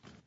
v. Gary Ferguson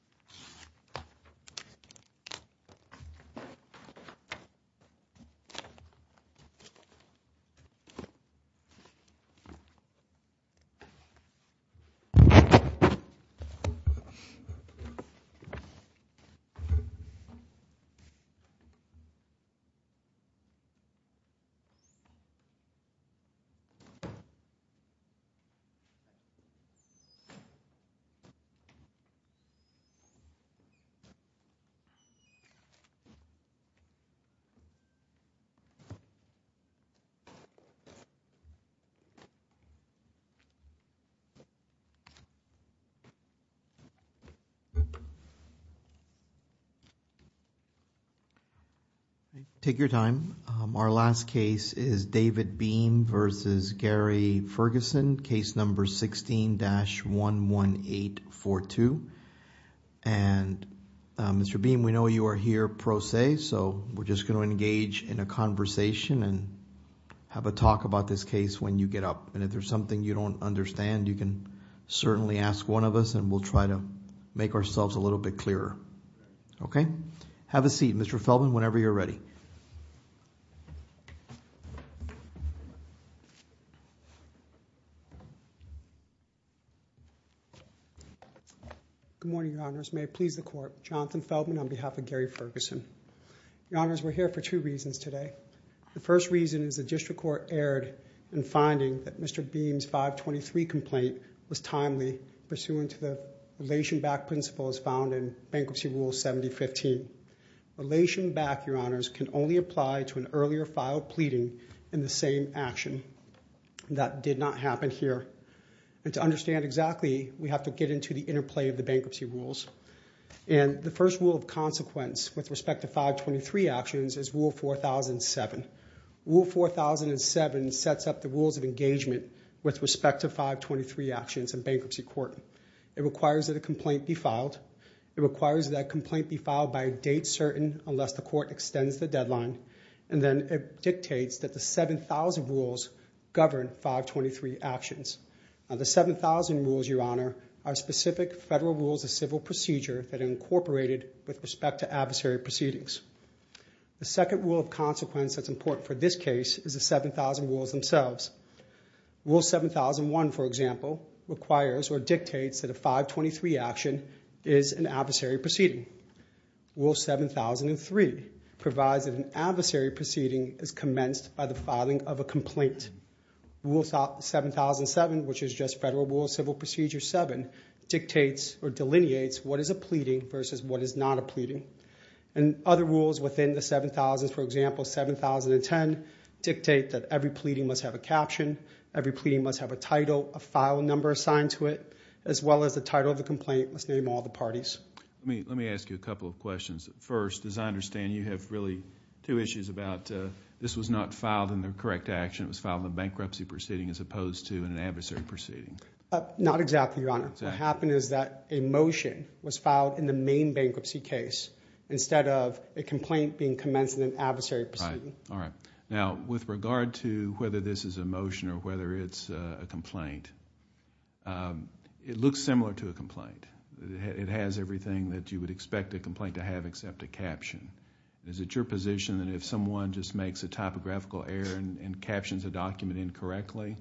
Take your time. Our last case is David Beem v. Gary Ferguson.Case differenced. Case number 16-11842. Mr. Beem, we know you are here pro se, so we're just going to engage in a conversation and have a talk about this case when you get up. If there's something you don't understand, you can certainly ask one of us and we'll try to make ourselves a little bit clearer. Have a seat, Mr. Feldman, whenever you're ready. Good morning, Your Honors. May it please the Court, Jonathan Feldman on behalf of Gary Ferguson. Your Honors, we're here for two reasons today. The first reason is the District Court erred in finding that Mr. Beem's 523 complaint was timely, pursuant to the relation-backed to an earlier filed pleading in the same action. That did not happen here. To understand exactly, we have to get into the interplay of the bankruptcy rules. The first rule of consequence with respect to 523 actions is Rule 4007. Rule 4007 sets up the rules of engagement with respect to 523 actions in bankruptcy court. It requires that a complaint be filed. It sets a deadline, and then it dictates that the 7,000 rules govern 523 actions. The 7,000 rules, Your Honor, are specific federal rules of civil procedure that are incorporated with respect to adversary proceedings. The second rule of consequence that's important for this case is the 7,000 rules themselves. Rule 7001, for example, requires or dictates that a 523 action is an adversary proceeding. Rule 7003 provides that an adversary proceeding is commenced by the filing of a complaint. Rule 7007, which is just Federal Rule of Civil Procedure 7, dictates or delineates what is a pleading versus what is not a pleading. Other rules within the 7,000, for example, 7,010 dictate that every pleading must have a caption, every complaint must name all the parties. Let me ask you a couple of questions. First, as I understand, you have really two issues about this was not filed in the correct action. It was filed in the bankruptcy proceeding as opposed to an adversary proceeding. Not exactly, Your Honor. What happened is that a motion was filed in the main bankruptcy case instead of a complaint being commenced in an adversary proceeding. All right. Now, with regard to whether this is a motion or whether it's a complaint, it looks similar to a complaint. It has everything that you would expect a complaint to have except a caption. Is it your position that if someone just makes a topographical error and captions a document incorrectly,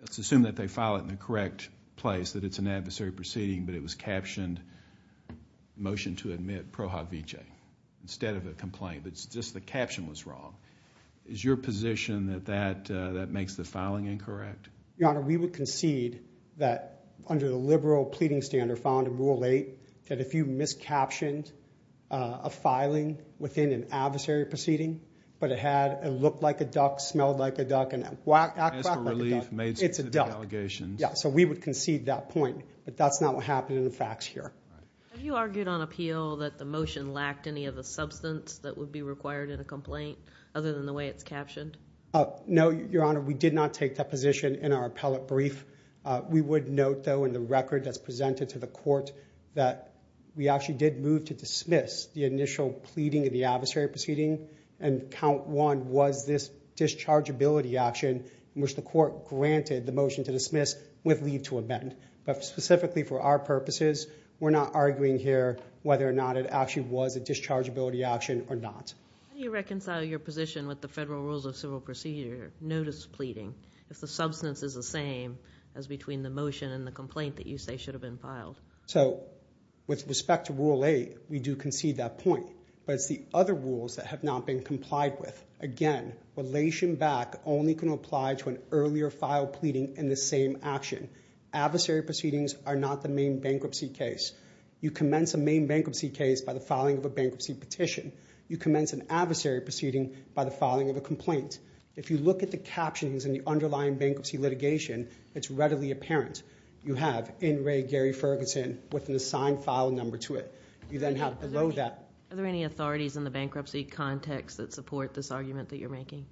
let's assume that they file it in the correct place, that it's an adversary proceeding, but it was captioned, motion to admit Prohog V.J. instead of a complaint, but just the caption was wrong. Is your position that that makes the filing incorrect? Your Honor, we would concede that under the liberal pleading standard found in Rule 8 that if you miscaptioned a filing within an adversary proceeding, but it had and looked like a duck, smelled like a duck, and whacked back like a duck, it's a duck. Yeah, so we would concede that point, but that's not what happened in the facts here. Have you argued on appeal that the motion lacked any of the substance that would be required in a complaint other than the way it's captioned? No, Your Honor. We did not take that position in our appellate brief. We would note, though, in the record that's presented to the court that we actually did move to dismiss the initial pleading of the adversary proceeding, and count one was this dischargeability action in which the court granted the motion to dismiss with leave to amend. But specifically for our purposes, we're not arguing here whether or not it actually was a dischargeability action or not. How do you reconcile your position with the federal rules of civil procedure notice pleading if the substance is the same as between the motion and the complaint that you say should have been filed? So, with respect to Rule 8, we do concede that point, but it's the other rules that have not been complied with. Again, relation back only can apply to an earlier filed pleading in the same action. Adversary proceedings are not the main bankruptcy case. You commence a main bankruptcy case by the filing of a bankruptcy petition. You commence an adversary proceeding by the filing of a complaint. If you look at the captions in the underlying bankruptcy litigation, it's readily apparent. You have in re Gary Ferguson with an assigned file number to it. You then have below that. Are there any authorities in the bankruptcy context that support this argument that you're making?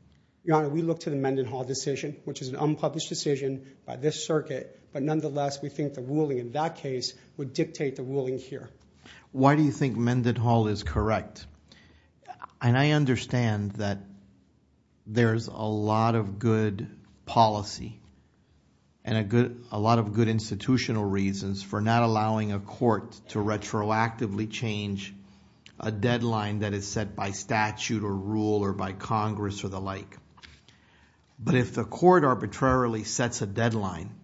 Your Honor, we look to the Mendenhall decision, which is an unpublished decision by this circuit, but nonetheless, we think the ruling in that case would dictate the ruling here. Why do you think Mendenhall is correct? And I understand that there's a lot of good policy and a lot of good institutional reasons for not allowing a court to retroactively change a deadline that is set by statute or rule or by Congress or the like. But if the court arbitrarily sets a deadline,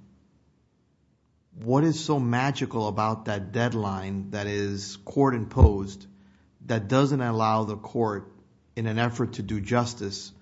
what is so magical about that deadline that is court imposed that doesn't allow the court in an effort to do justice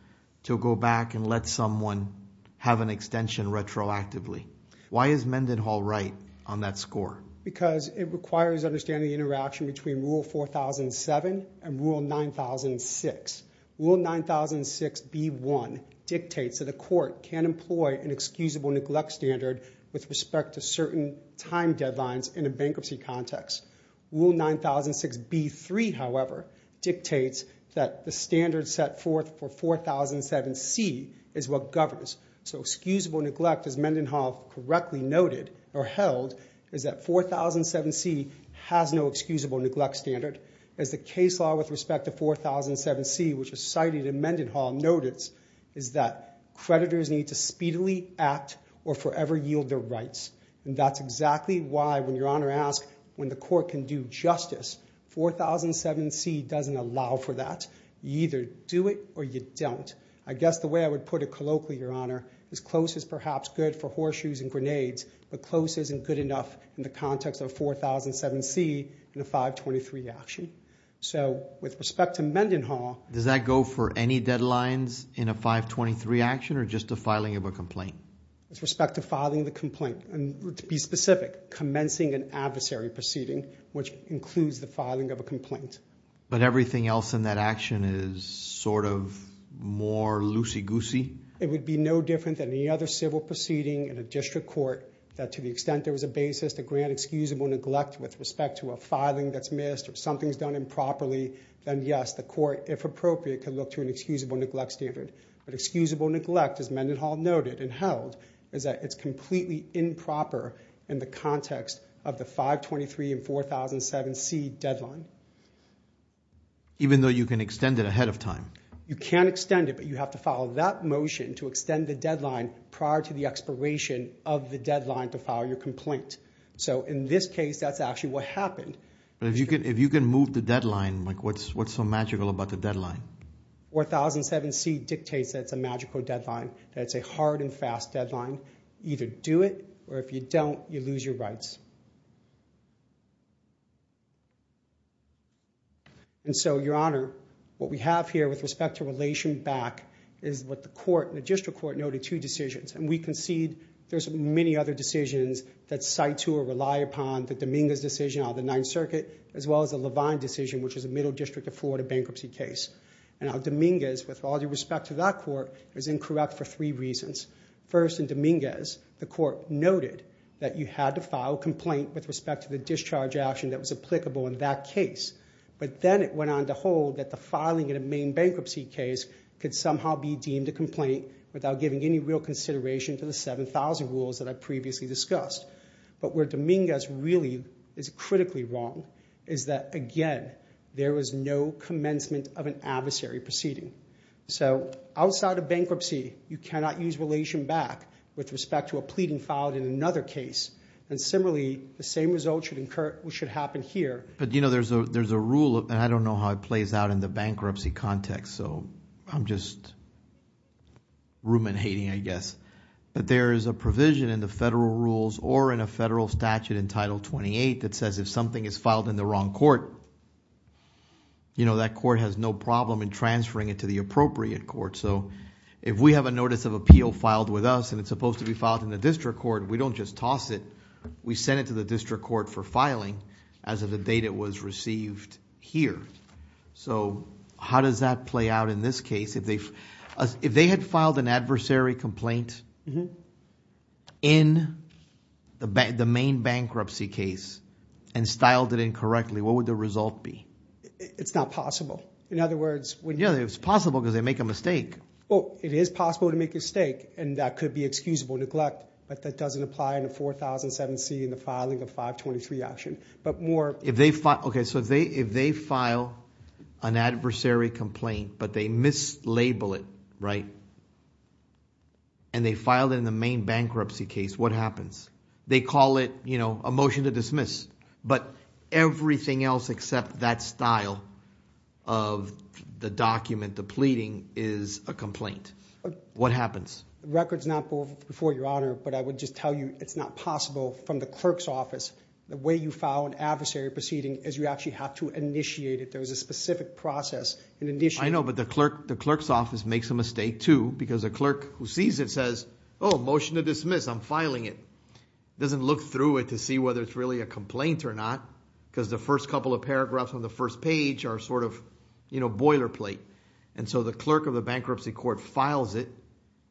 to go back and let someone have an extension retroactively? Why is Mendenhall right on that score? Because it requires understanding the interaction between Rule 4007 and Rule 9006. Rule 9006 B1 dictates that a court can employ an excusable neglect standard with respect to certain time deadlines in a bankruptcy context. Rule 9006 B3, however, dictates that the standard set forth for 4007C is what governs. So excusable neglect, as Mendenhall correctly noted or held, is that 4007C has no excusable neglect standard. As the case law with respect to creditors is that creditors need to speedily act or forever yield their rights. And that's exactly why when Your Honor asks when the court can do justice, 4007C doesn't allow for that. You either do it or you don't. I guess the way I would put it colloquially, Your Honor, is close is perhaps good for horseshoes and grenades, but close isn't good enough in the context of 4007C in a 523 action. So with respect to Mendenhall Does that go for any deadlines in a 523 action or just the filing of a complaint? With respect to filing the complaint, and to be specific, commencing an adversary proceeding, which includes the filing of a complaint. But everything else in that action is sort of more loosey-goosey? It would be no different than any other civil proceeding in a district court that to the extent there was a basis to grant excusable neglect with respect to a filing that's missed or something's done improperly, then yes, the court, if appropriate, can look to an excusable neglect standard. But excusable neglect, as Mendenhall noted and held, is that it's completely improper in the context of the 523 and 4007C deadline. Even though you can extend it ahead of time? You can extend it, but you have to follow that motion to extend the deadline prior to the expiration of the deadline to file your complaint. So in this case, that's actually what happened. But if you can move the deadline, what's so magical about the deadline? 4007C dictates that it's a magical deadline, that it's a hard and fast deadline. Either do it, or if you don't, you lose your rights. And so, Your Honor, what we have here with respect to relation back is what the court, the district court, noted two decisions. And we concede there's many other decisions that were in Dominguez's decision out of the Ninth Circuit, as well as the Levine decision, which is a Middle District of Florida bankruptcy case. And now, Dominguez, with all due respect to that court, is incorrect for three reasons. First, in Dominguez, the court noted that you had to file a complaint with respect to the discharge action that was applicable in that case. But then it went on to hold that the filing in a main bankruptcy case could somehow be deemed a complaint without giving any real consideration to the 7,000 rules that I previously discussed. But where Dominguez really is critically wrong is that, again, there was no commencement of an adversary proceeding. So outside of bankruptcy, you cannot use relation back with respect to a pleading filed in another case. And similarly, the same result should occur, which should happen here. But, you know, there's a rule, and I don't know how it plays out in the bankruptcy context, so I'm just ruminating, I guess. But there is a provision in the federal rules or in a federal statute in Title 28 that says if something is filed in the wrong court, you know, that court has no problem in transferring it to the appropriate court. So if we have a notice of appeal filed with us and it's supposed to be filed in the district court, we don't just toss it. We send it to the district court for filing as of the date it was received here. So how does that play out in this case? If they had filed an adversary complaint in the main bankruptcy case and styled it incorrectly, what would the result be? It's not possible. In other words, when... Yeah, it's possible because they make a mistake. Well, it is possible to make a mistake, and that could be excusable neglect, but that doesn't apply in a 4007C in the filing of 523 action. But more... Okay, so if they file an adversary complaint, but they mislabel it, right, and they filed it in the main bankruptcy case, what happens? They call it, you know, a motion to dismiss, but everything else except that style of the document, the pleading, is a complaint. What happens? The record's not before your honor, but I would just tell you it's not possible from the clerk's office. The way you file an adversary proceeding is you actually have to initiate it. There was a specific process in initiating... I know, but the clerk's office makes a mistake too, because a clerk who sees it says, oh, motion to dismiss, I'm filing it. Doesn't look through it to see whether it's really a complaint or not, because the first couple of paragraphs on the first page are sort of, you know, boilerplate. And so the clerk of the bankruptcy court files it,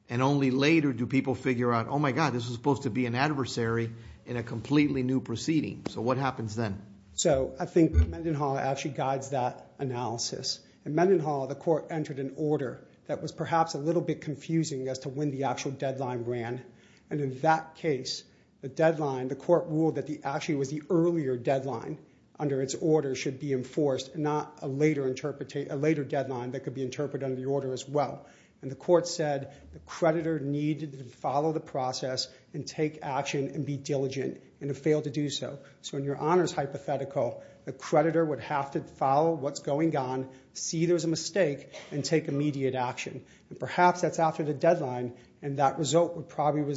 and only later do people figure out, oh my God, this was supposed to be an adversary in a completely new proceeding. So what happens then? So I think Mendenhall actually guides that analysis. In Mendenhall, the court entered an order that was perhaps a little bit confusing as to when the actual deadline ran, and in that case, the deadline, the court ruled that actually was the earlier deadline under its order should be enforced, not a later deadline that could be interpreted under the order as well. And the court said the creditor needed to follow the process and take action and be diligent, and it failed to do so. So in your honors hypothetical, the creditor would have to follow what's going on, see there's a mistake, and take immediate action. And perhaps that's after the deadline, and that result would probably...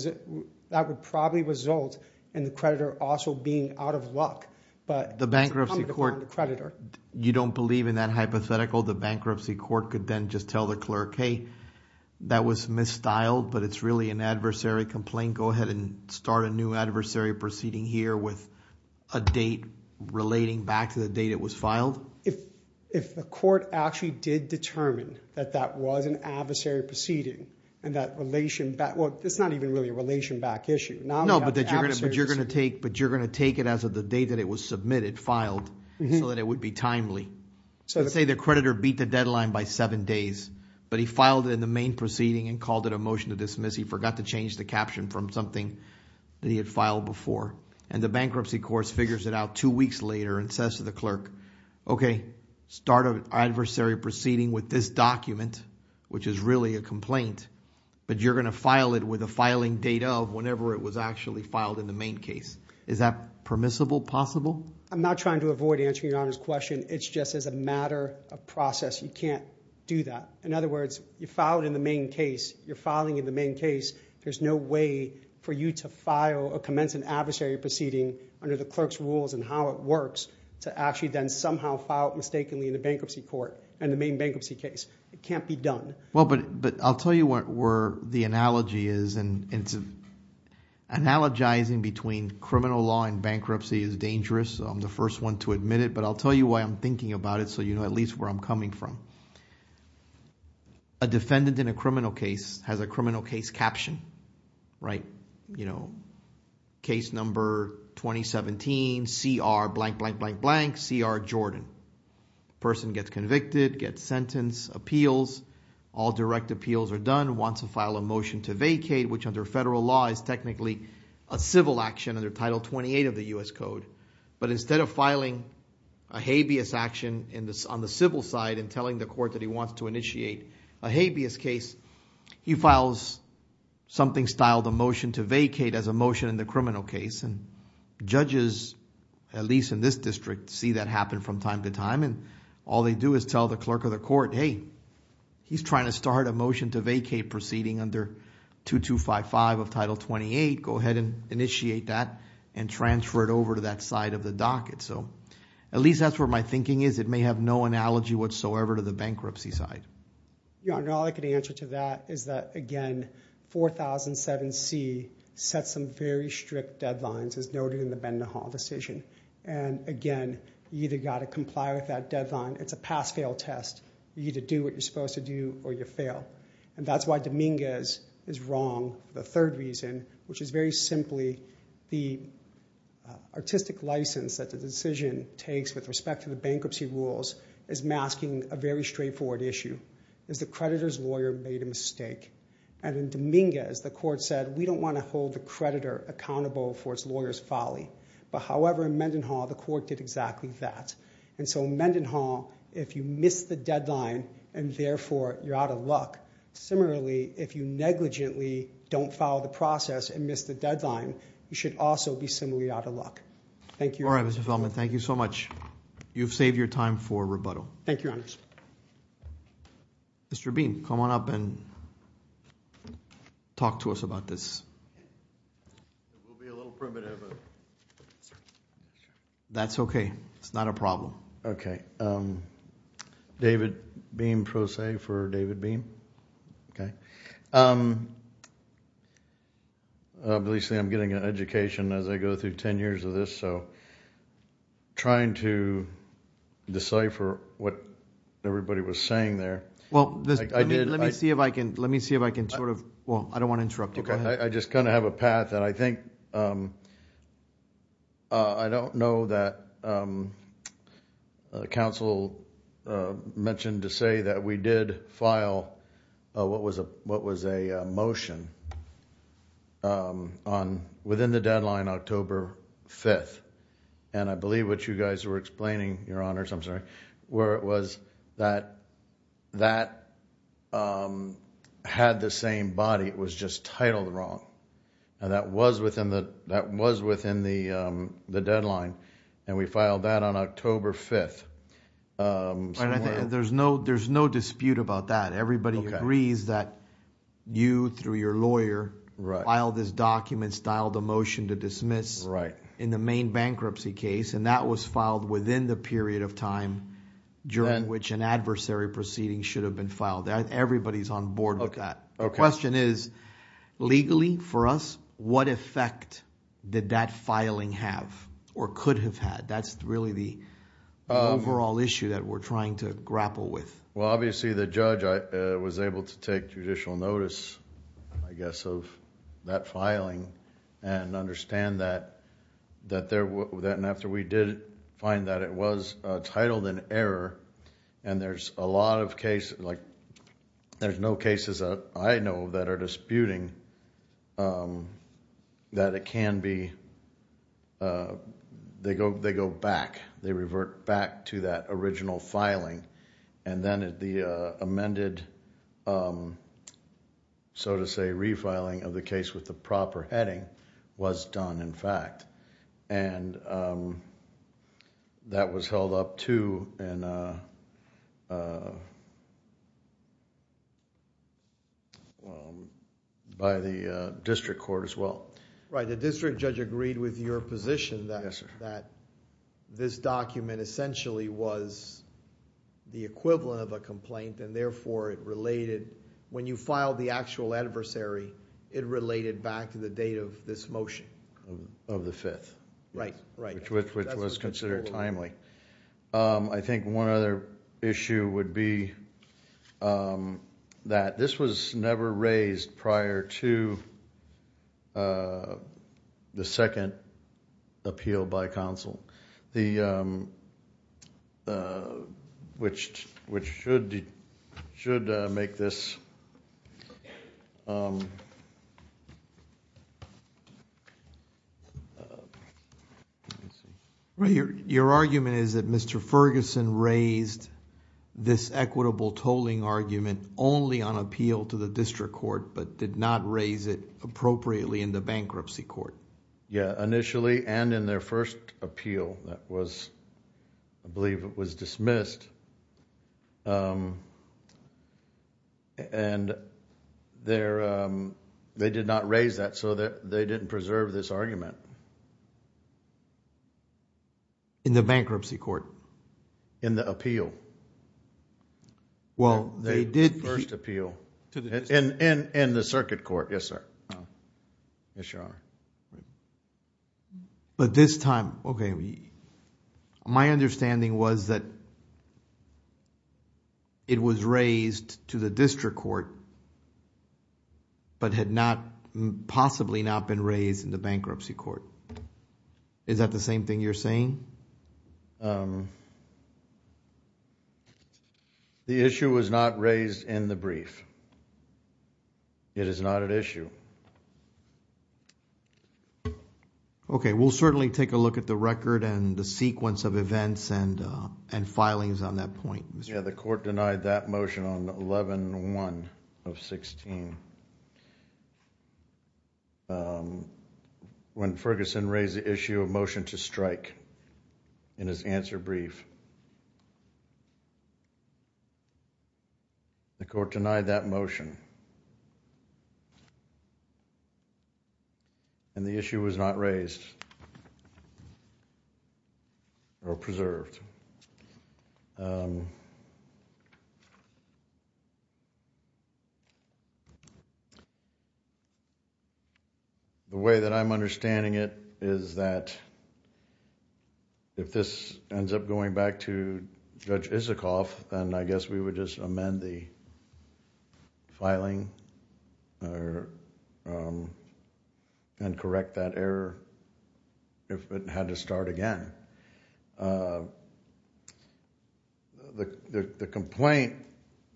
that would probably result in the creditor also being out of luck. But the bankruptcy court... You don't believe in that hypothetical. The bankruptcy court could then just tell the go ahead and start a new adversary proceeding here with a date relating back to the date it was filed? If the court actually did determine that that was an adversary proceeding, and that relation back... well, it's not even really a relation back issue. No, but you're going to take it as of the date that it was submitted, filed, so that it would be timely. Let's say the creditor beat the deadline by seven days, but he filed it in the main proceeding and called it a motion to dismiss. He forgot to change the caption from something that he had filed before. And the bankruptcy court figures it out two weeks later and says to the clerk, okay, start an adversary proceeding with this document, which is really a complaint, but you're going to file it with a filing date of whenever it was actually filed in the main case. Is that permissible? Possible? I'm not trying to avoid answering your honor's question. It's just as a matter of process, you can't do that. In other words, you file it in the main case, you're filing in the main case, there's no way for you to file a commensurate adversary proceeding under the clerk's rules and how it works to actually then somehow file it mistakenly in the bankruptcy court and the main bankruptcy case. It can't be done. Well, but I'll tell you where the analogy is. Analogizing between criminal law and bankruptcy is dangerous. I'm the first one to admit it, but I'll tell you why I'm thinking about it so you know at least where I'm coming from. A defendant in a criminal case has a criminal case caption, right? You know, case number 2017, CR blank, blank, blank, blank, CR Jordan. Person gets convicted, gets sentenced, appeals, all direct appeals are done, wants to file a motion to vacate, which under federal law is technically a civil action under Title 28 of the U.S. Code. But instead of filing a habeas action on the civil side and telling the court that he wants to initiate a habeas case, he files something styled a motion to vacate as a motion in the criminal case and judges, at least in this district, see that happen from time to time and all they do is tell the clerk of the court, hey, he's trying to start a motion to vacate proceeding under 2255 of Title 28. Go ahead and initiate that and transfer it over to that side of the docket. So at least that's where my thinking is. It may have no analogy whatsoever to the bankruptcy side. Yeah, and all I can answer to that is that, again, 4007C sets some very strict deadlines as noted in the Bend the Hall decision. And again, you either got to comply with that deadline. It's a pass-fail test. You either do what you're supposed to do or you fail. And that's why Dominguez is wrong. The third reason, which is very simply the artistic license that the decision takes with respect to the bankruptcy rules is masking a very straightforward issue, is the creditor's lawyer made a mistake. And in Dominguez, the court said, we don't want to hold the creditor accountable for its lawyer's folly. But however, in Mendenhall, the court did exactly that. And so Mendenhall, if you miss the deadline and therefore you're out of luck, similarly, if you negligently don't follow the process and miss the deadline, you should also be similarly out of luck. Thank you. All right, Mr. Feldman, thank you so much. You've saved your time for rebuttal. Thank you, Your Honors. Mr. Beam, come on up and talk to us about this. It will be a little primitive, but that's okay. It's not a problem. Okay, David Beam Pro Se for David Beam, okay. Obviously, I'm getting an education as I go through ten years of this. So trying to decipher what everybody was saying there. Well, let me see if I can sort of, well, I don't want to interrupt. Okay, I just kind of have a path. And I think, I don't know that counsel mentioned to say that we did file what was a motion within the deadline October 5th. And I believe what you guys were explaining, Your Honors, I'm sorry, where it was that that had the same body. It was just titled wrong. And that was within the deadline. And we filed that on October 5th. There's no dispute about that. Everybody agrees that you, through your lawyer, filed this document, styled a motion to dismiss in the main bankruptcy case. And that was filed within the period of time during which an adversary proceeding should have been filed. Everybody's on board with that. The question is, legally for us, what effect did that filing have or could have had? That's really the overall issue that we're trying to grapple with. Well, obviously, the judge was able to take judicial notice, I guess, of that filing and understand that after we did find that it was titled an error, and there's a lot of cases, like there's no cases that I know that are disputing that it can be... They go back. They revert back to that original filing. And then the amended, so to say, refiling of the case with the proper heading was done, in fact. And that was held up, too, by the district court as well. Right. The district judge agreed with your position that this document essentially was the equivalent of a complaint and therefore it related... when you filed the actual adversary, it related back to the date of this motion. The date of the 5th, which was considered timely. I think one other issue would be that this was never raised prior to the second appeal by counsel, which should make this Your argument is that Mr. Ferguson raised this equitable tolling argument only on appeal to the district court but did not raise it appropriately in the bankruptcy court. Yeah. Initially and in their first appeal that was, I believe it was dismissed. And they did not raise that so that they didn't preserve this argument. In the bankruptcy court? In the appeal. Well, they did... In the circuit court, yes, sir. Yes, Your Honor. But this time, okay, my understanding was that it was raised to the district court but had not, possibly not been raised in the bankruptcy court. Is that the same thing you're saying? The issue was not raised in the brief. It is not an issue. Okay, we'll certainly take a look at the record and the sequence of events and filings on that point. Yeah, the court denied that motion on 11-1 of 16 when Ferguson raised the issue of motion to strike in his answer brief. The court denied that motion and the issue was not raised or preserved. The way that I'm understanding it is that if this ends up going back to Judge Isikoff, then I guess we would just amend the filing and correct that error if it had to start again. The complaint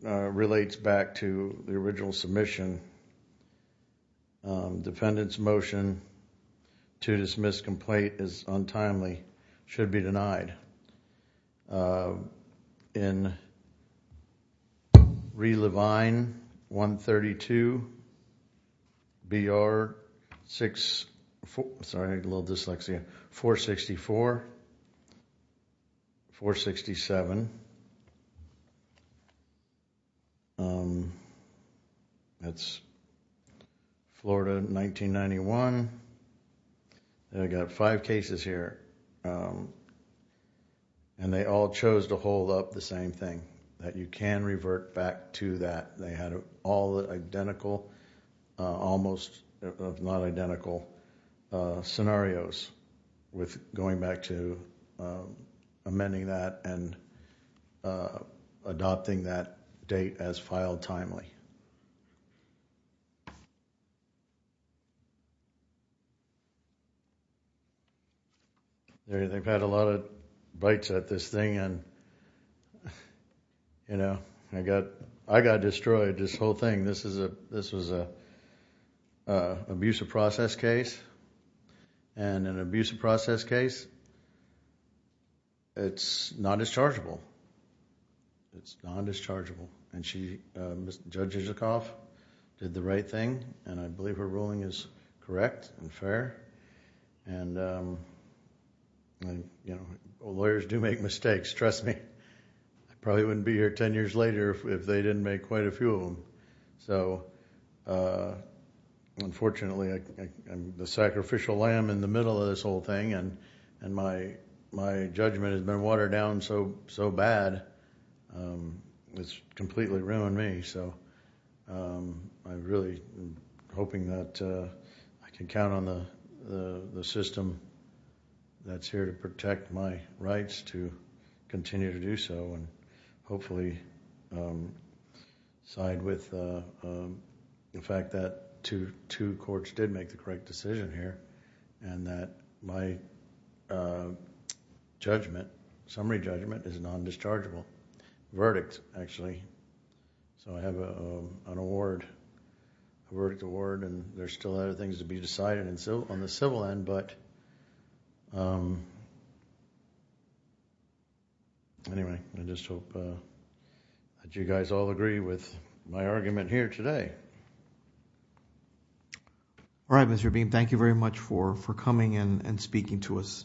relates back to the original submission. Defendant's motion to dismiss complaint is untimely, should be denied. In Ree Levine, 132, B.R. 64, sorry, a little dyslexia, 464, 467, that's Florida, 1991, and I've got five cases here. And they all chose to hold up the same thing, that you can revert back to that. They had all identical, almost non-identical scenarios with going back to amending that and adopting that date as filed timely. They've had a lot of bites at this thing and I got destroyed, this whole thing. This was an abusive process case and in an abusive process case, it's non-dischargeable. It's non-dischargeable. Judge Isikoff did the right thing and I believe her ruling is right. Lawyers do make mistakes, trust me. I probably wouldn't be here ten years later if they didn't make quite a few of them. Unfortunately, I'm the sacrificial lamb in the middle of this whole thing and my judgment has been watered down so bad, it's completely ruined me. I'm really hoping that I can count on the system that's here to protect my rights to continue to do so and hopefully side with the fact that two courts did make the correct decision here and that my judgment, summary judgment is non-dischargeable. Verdict actually. I have an award, a verdict award and there's still other things to be decided on the civil end. But anyway, I just hope that you guys all agree with my argument here today. All right, Mr. Beam, thank you very much for coming in and speaking to us.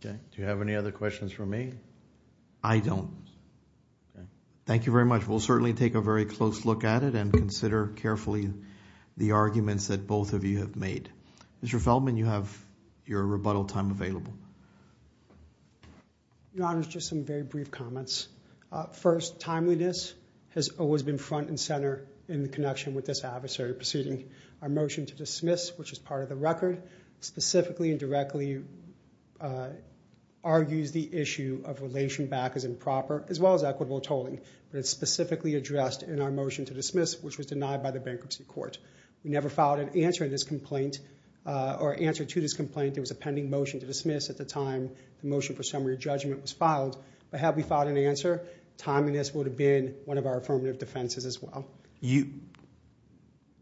Do you have any other questions for me? I don't. Okay. Thank you very much. We'll certainly take a very close look at it and consider carefully the arguments that both of you have made. Mr. Feldman, you have your rebuttal time available. Your Honor, just some very brief comments. First, timeliness has always been front and center in the connection with this adversary, proceeding our motion to dismiss, which is part of the record, specifically and directly argues the issue of relation back as well as equitable tolling, but it's specifically addressed in our motion to dismiss, which was denied by the Bankruptcy Court. We never filed an answer to this complaint. There was a pending motion to dismiss at the time the motion for summary judgment was filed, but had we filed an answer, timeliness would have been one of our affirmative defenses as well.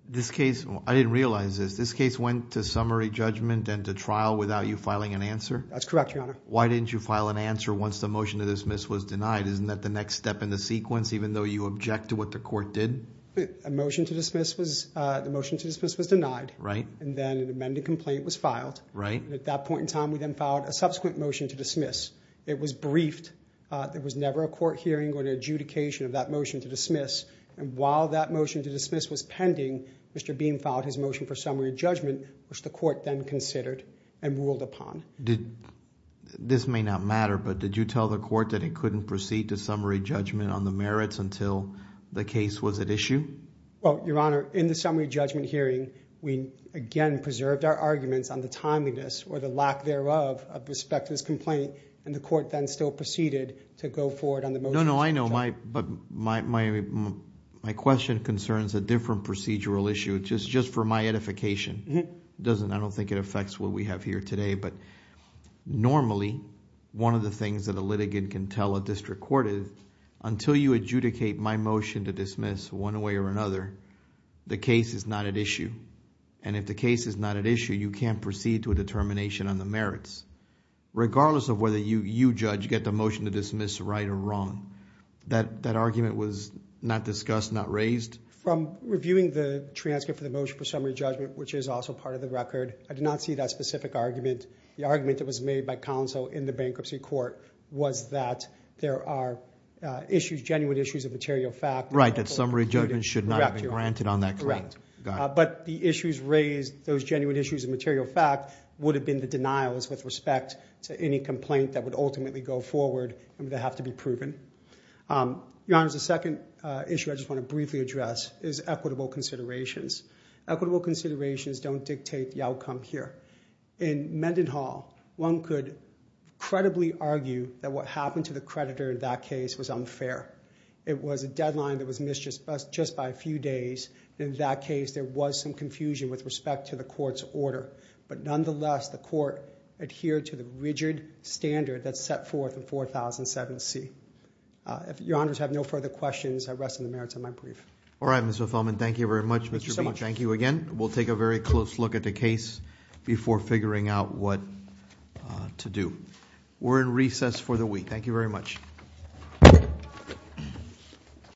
This case... I didn't realize this. This case went to summary judgment and to trial without you filing an answer? That's correct, Your Honor. Why didn't you file an answer once the motion to dismiss was denied? Isn't that the next step in the sequence, even though you object to what the court did? A motion to dismiss was denied, and then an amended complaint was filed. At that point in time, we then filed a subsequent motion to dismiss. It was briefed. There was never a court hearing or an adjudication of that motion to dismiss. While that motion to dismiss was pending, Mr. Beam filed his motion for summary judgment, which the court then considered and ruled upon. This may not matter, but did you tell the court that it couldn't proceed to summary judgment on the merits until the case was at issue? Your Honor, in the summary judgment hearing, we again preserved our arguments on the timeliness or the lack thereof of respect to this complaint, and the court then still proceeded to go forward on the motion... No, no. I know, but my question concerns a different procedural issue. Just for my edification, I don't think it affects what we have here today, but normally, one of the things that a litigant can tell a district court is, until you adjudicate my motion to dismiss one way or another, the case is not at issue. If the case is not at issue, you can't proceed to a determination on the merits, regardless of whether you, judge, get the motion to dismiss right or wrong. That argument was not discussed, not raised? From reviewing the transcript of the motion for summary judgment, which is also part of the record, I did not see that specific argument. The argument that was made by counsel in the bankruptcy court was that there are issues, genuine issues of material fact... Right, that summary judgment should not have been granted on that claim. Correct. But the issues raised, those genuine issues of material fact, would have been the denials with respect to any complaint that would ultimately go forward and would have to be proven. Your Honor, the second issue I just want to briefly address is equitable considerations. Equitable considerations don't dictate the outcome here. In Mendenhall, one could credibly argue that what happened to the creditor in that case was unfair. It was a deadline that was missed just by a few days. In that case, there was some confusion with respect to the court's order, but nonetheless, the court adhered to the rigid standard that's set forth in 4007C. Your Honors have no further questions. I rest on the merits of my brief. Thank you very much, Mr. Weiss. Thank you again. We'll take a very close look at the case before figuring out what to do. We're in recess for the week. Thank you very much.